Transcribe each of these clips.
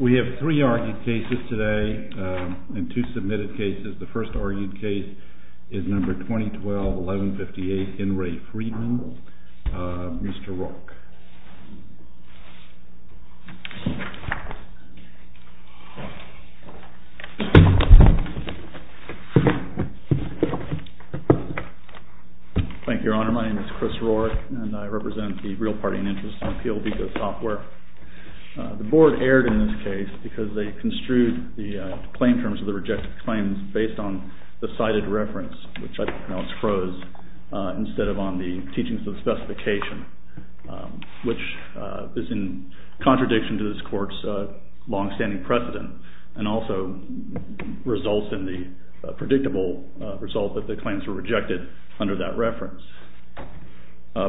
We have three argued cases today and two submitted cases. The first argued case is number 2012-1158, Henry Freeman, Mr. Rourke. Thank you, Your Honor. My name is Chris Rourke, and I represent the Real Party and Interest in Appeal because software. The board erred in this case because they construed the claim terms of the rejected claims based on the cited reference, which I pronounce froze, instead of on the teachings of the specification, which is in contradiction to this court's long-standing precedent and also results in the predictable result that the claims were rejected under that reference.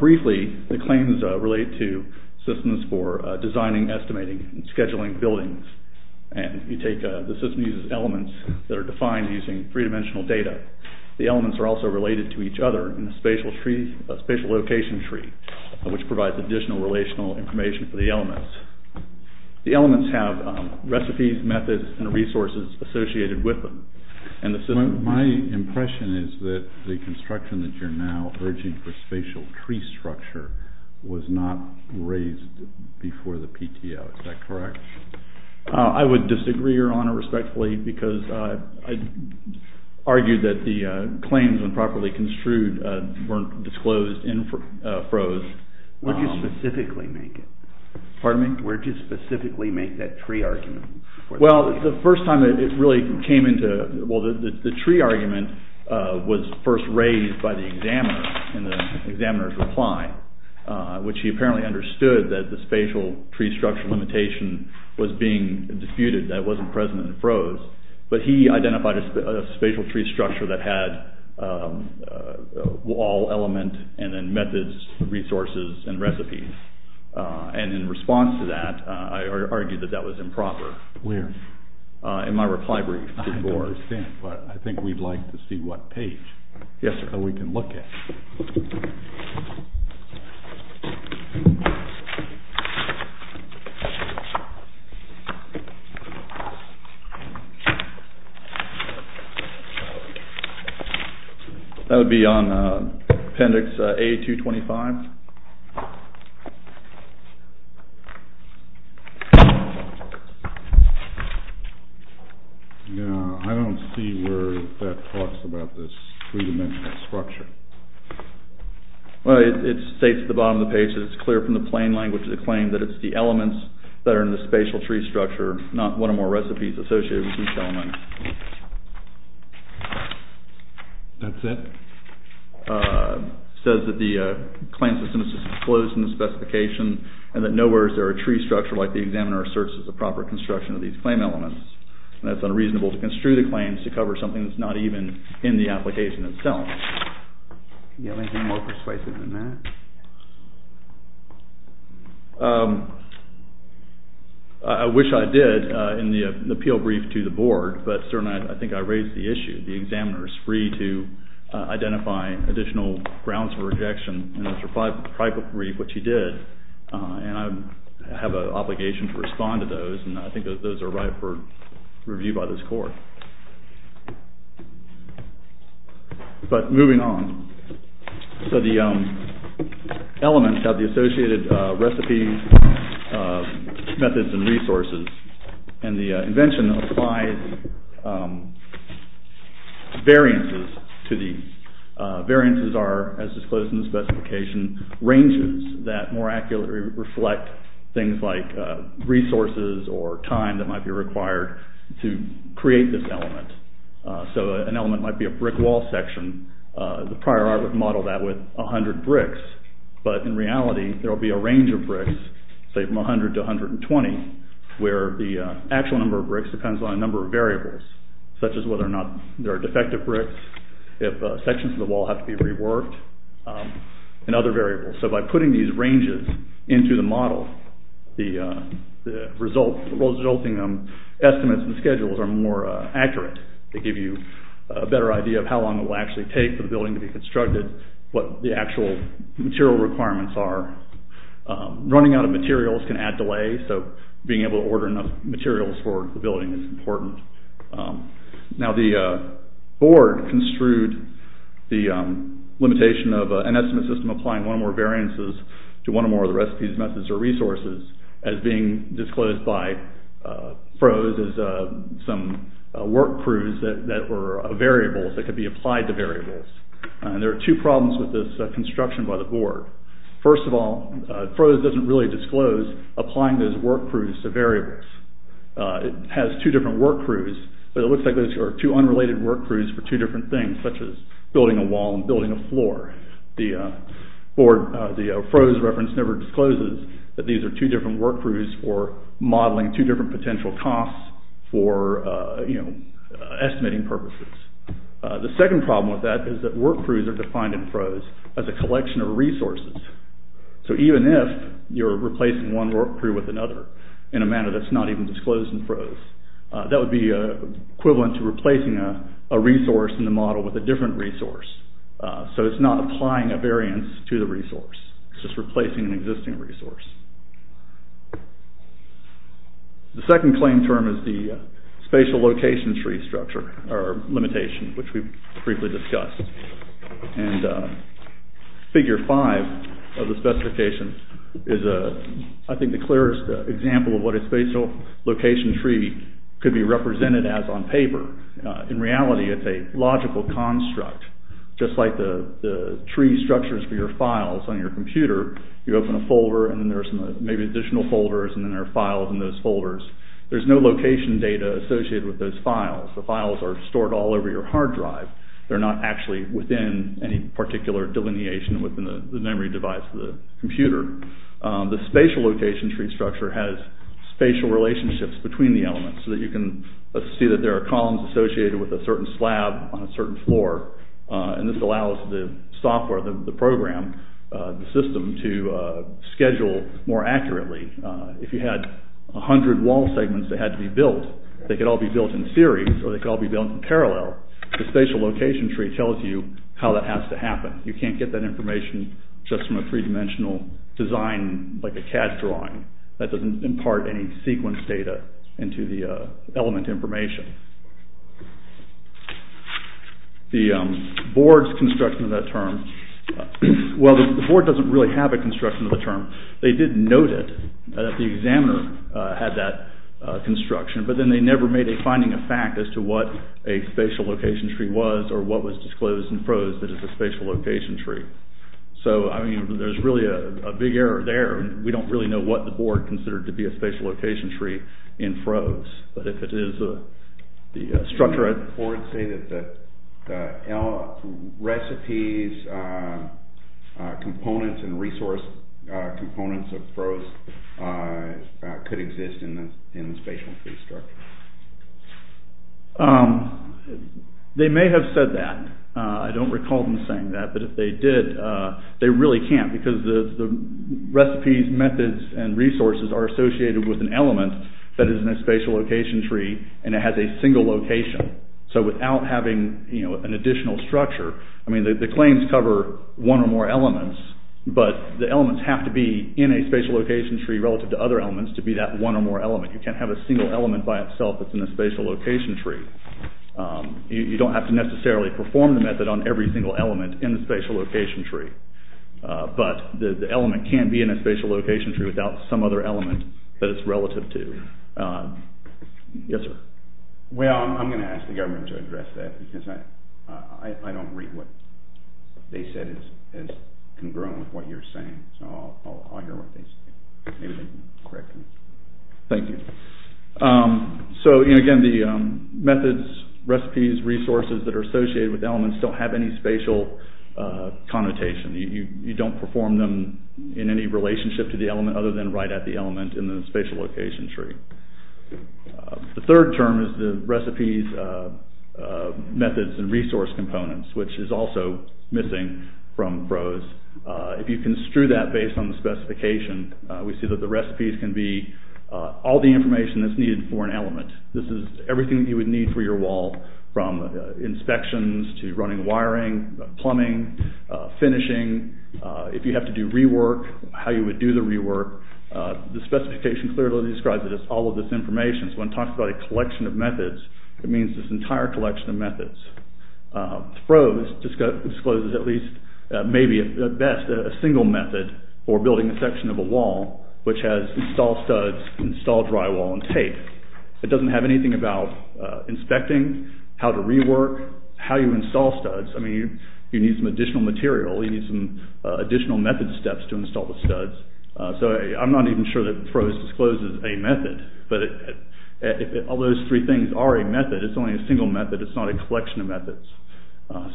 Briefly, the claims relate to systems for designing, estimating, and scheduling buildings. And you take the system uses elements that are defined using three-dimensional data. The elements are also related to each other in a spatial location tree, which provides additional relational information for the elements. The elements have recipes, methods, and resources associated with them. My impression is that the construction that you're now urging for spatial tree structure was not raised before the PTO. Is that correct? I would disagree, Your Honor, respectfully, because I'd argue that the claims, when properly construed, weren't disclosed and froze. Where did you specifically make it? Pardon me? Where did you specifically make that tree argument? Well, the first time it really came into – well, the tree argument was first raised by the examiner in the examiner's reply, which he apparently understood that the spatial tree structure limitation was being disputed, that it wasn't present and froze. But he identified a spatial tree structure that had all element and then methods, resources, and recipes. And in response to that, I argued that that was improper. Where? In my reply brief. I understand, but I think we'd like to see what page. Yes, sir. That we can look at. Thank you. That would be on appendix A-225. No, I don't see where that talks about this three-dimensional structure. Well, it states at the bottom of the page that it's clear from the plain language of the claim that it's the elements that are in the spatial tree structure, not one or more recipes associated with each element. That's it? It says that the claim system is disclosed in the specification and that nowhere is there a tree structure like the examiner asserts is the proper construction of these claim elements. And that it's unreasonable to construe the claims to cover something that's not even in the application itself. Do you have anything more persuasive than that? I wish I did in the appeal brief to the board, but sir, I think I raised the issue. The examiner is free to identify additional grounds for rejection in the tribal brief, which he did, and I have an obligation to respond to those, and I think those are right for review by this court. But moving on, so the elements have the associated recipes, methods, and resources, and the invention applies variances to these. Variances are, as disclosed in the specification, ranges that more accurately reflect things like resources or time that might be required to create this element. So an element might be a brick wall section. The prior art would model that with 100 bricks, but in reality there will be a range of bricks, say from 100 to 120, where the actual number of bricks depends on a number of variables, such as whether or not there are defective bricks, if sections of the wall have to be reworked, and other variables. So by putting these ranges into the model, the resulting estimates and schedules are more accurate. They give you a better idea of how long it will actually take for the building to be constructed, what the actual material requirements are. Running out of materials can add delay, so being able to order enough materials for the building is important. Now the board construed the limitation of an estimate system applying one or more variances to one or more of the recipes, methods, or resources as being disclosed by pros as some work crews that were variables that could be applied to variables. There are two problems with this construction by the board. First of all, pros doesn't really disclose applying those work crews to variables. It has two different work crews, but it looks like those are two unrelated work crews for two different things, such as building a wall and building a floor. The pros reference never discloses that these are two different work crews for modeling two different potential costs for estimating purposes. The second problem with that is that work crews are defined in pros as a collection of resources. So even if you're replacing one work crew with another in a manner that's not even disclosed in pros, that would be equivalent to replacing a resource in the model with a different resource. So it's not applying a variance to the resource. It's just replacing an existing resource. The second claim term is the spatial location tree structure, or limitation, which we've briefly discussed. And figure five of the specification is, I think, the clearest example of what a spatial location tree could be represented as on paper. In reality, it's a logical construct, just like the tree structures for your files on your computer. You open a folder, and then there's maybe additional folders, and then there are files in those folders. There's no location data associated with those files. The files are stored all over your hard drive. They're not actually within any particular delineation within the memory device of the computer. The spatial location tree structure has spatial relationships between the elements, so that you can see that there are columns associated with a certain slab on a certain floor. And this allows the software, the program, the system, to schedule more accurately. If you had 100 wall segments that had to be built, they could all be built in series, or they could all be built in parallel. The spatial location tree tells you how that has to happen. You can't get that information just from a three-dimensional design like a CAD drawing. That doesn't impart any sequence data into the element information. The board's construction of that term... Well, the board doesn't really have a construction of the term. They did note it, that the examiner had that construction, but then they never made a finding of fact as to what a spatial location tree was, or what was disclosed in FROZE that is a spatial location tree. So, I mean, there's really a big error there. We don't really know what the board considered to be a spatial location tree in FROZE. But if it is the structure... Did the board say that the recipes, components, and resource components of FROZE could exist in the spatial tree structure? They may have said that. I don't recall them saying that. But if they did, they really can't, because the recipes, methods, and resources are associated with an element that is in a spatial location tree, and it has a single location. So without having an additional structure... I mean, the claims cover one or more elements, but the elements have to be in a spatial location tree relative to other elements to be that one or more element. You can't have a single element by itself that's in a spatial location tree. You don't have to necessarily perform the method on every single element in the spatial location tree. But the element can be in a spatial location tree without some other element that it's relative to. Yes, sir? Well, I'm going to ask the government to address that, because I don't read what they said is congruent with what you're saying. So I'll hear what they say. Maybe they can correct me. Thank you. So, again, the methods, recipes, resources that are associated with elements don't have any spatial connotation. You don't perform them in any relationship to the element other than right at the element in the spatial location tree. The third term is the recipes, methods, and resource components, which is also missing from CROWS. If you construe that based on the specification, we see that the recipes can be all the information that's needed for an element. This is everything that you would need for your wall, from inspections to running wiring, plumbing, finishing, if you have to do rework, how you would do the rework. The specification clearly describes it as all of this information. So when it talks about a collection of methods, it means this entire collection of methods. CROWS discloses at least, maybe at best, a single method for building a section of a wall, which has install studs, install drywall, and tape. It doesn't have anything about inspecting, how to rework, how you install studs. You need some additional material. You need some additional method steps to install the studs. So I'm not even sure that CROWS discloses a method, but if all those three things are a method, it's only a single method, it's not a collection of methods.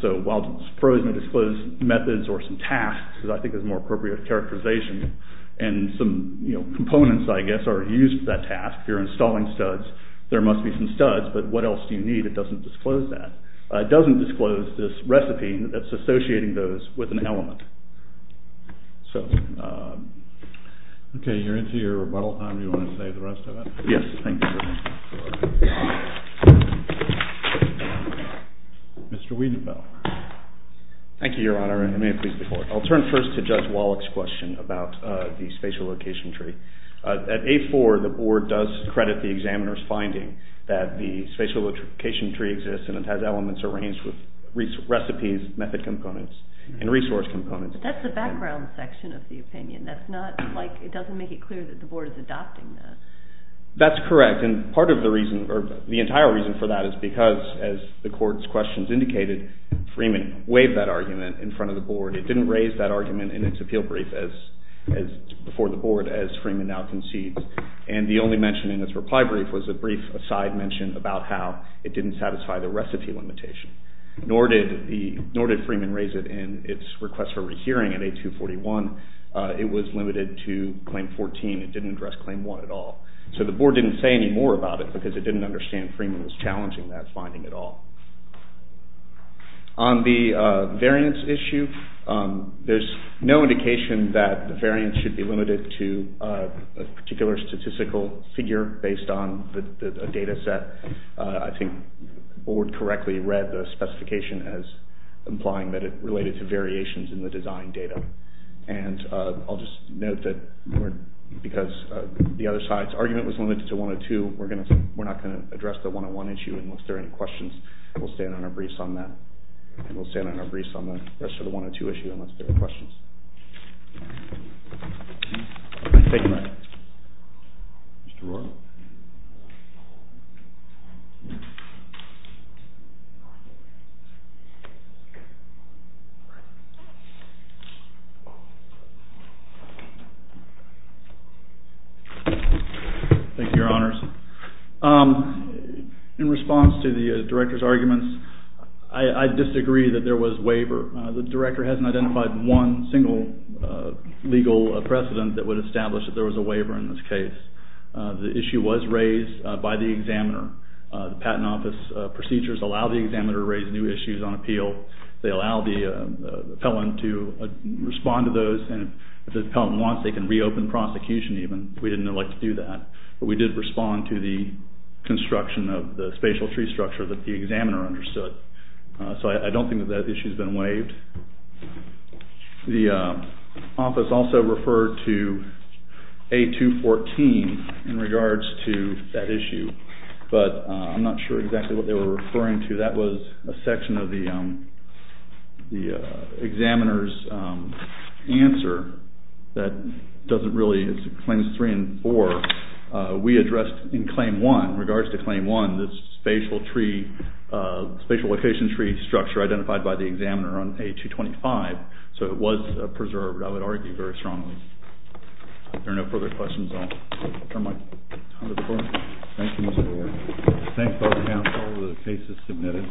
So while CROWS may disclose methods or some tasks, because I think that's a more appropriate characterization, and some components, I guess, are used for that task, you're installing studs, there must be some studs, but what else do you need? It doesn't disclose that. It doesn't disclose this recipe that's associating those with an element. So... Okay, you're into your rebuttal time. Do you want to save the rest of it? Yes, thank you. Mr. Weedenbough. Thank you, Your Honor, and may it please the Court. I'll turn first to Judge Wallach's question about the spatial location tree. At 8-4, the Board does credit the examiner's finding that the spatial location tree exists and it has elements arranged with recipes, method components, and resource components. But that's the background section of the opinion. That's not, like, it doesn't make it clear that the Board is adopting that. That's correct, and part of the reason, or the entire reason for that is because, as the Court's questions indicated, Freeman waived that argument in front of the Board. It didn't raise that argument in its appeal brief before the Board as Freeman now concedes. And the only mention in its reply brief was a brief aside mention about how it didn't satisfy the recipe limitation. Nor did Freeman raise it in its request for rehearing at 8-241. It was limited to Claim 14. It didn't address Claim 1 at all. So the Board didn't say any more about it because it didn't understand Freeman was challenging that finding at all. On the variance issue, there's no indication that the variance should be limited to a particular statistical figure based on the data set. I think the Board correctly read the specification as implying that it related to variations in the design data. And I'll just note that because the other side's argument was limited to 102, we're not going to address the 101 issue. And if there are any questions, we'll stand on our briefs on that. Thank you very much. Mr. Roark. Thank you, Your Honors. In response to the Director's arguments, I disagree that there was waiver. The Director hasn't identified one single legal precedent that would establish that there was a waiver in this case. The issue was raised by the examiner. The Patent Office procedures allow the examiner to raise new issues on appeal. They allow the appellant to respond to those. And if the appellant wants, they can reopen prosecution even. We didn't elect to do that. But we did respond to the construction of the spatial tree structure that the examiner understood. So I don't think that that issue's been waived. The office also referred to A214 in regards to that issue. But I'm not sure exactly what they were referring to. That was a section of the examiner's answer that doesn't really, it's Claims 3 and 4. We addressed in Claim 1, in regards to Claim 1, this spatial tree, spatial location tree structure identified by the examiner on A225. So it was preserved, I would argue, very strongly. If there are no further questions, I'll turn my time to the Board. Thank you, Mr. Mayor. Thanks, Board of Council. The case is submitted.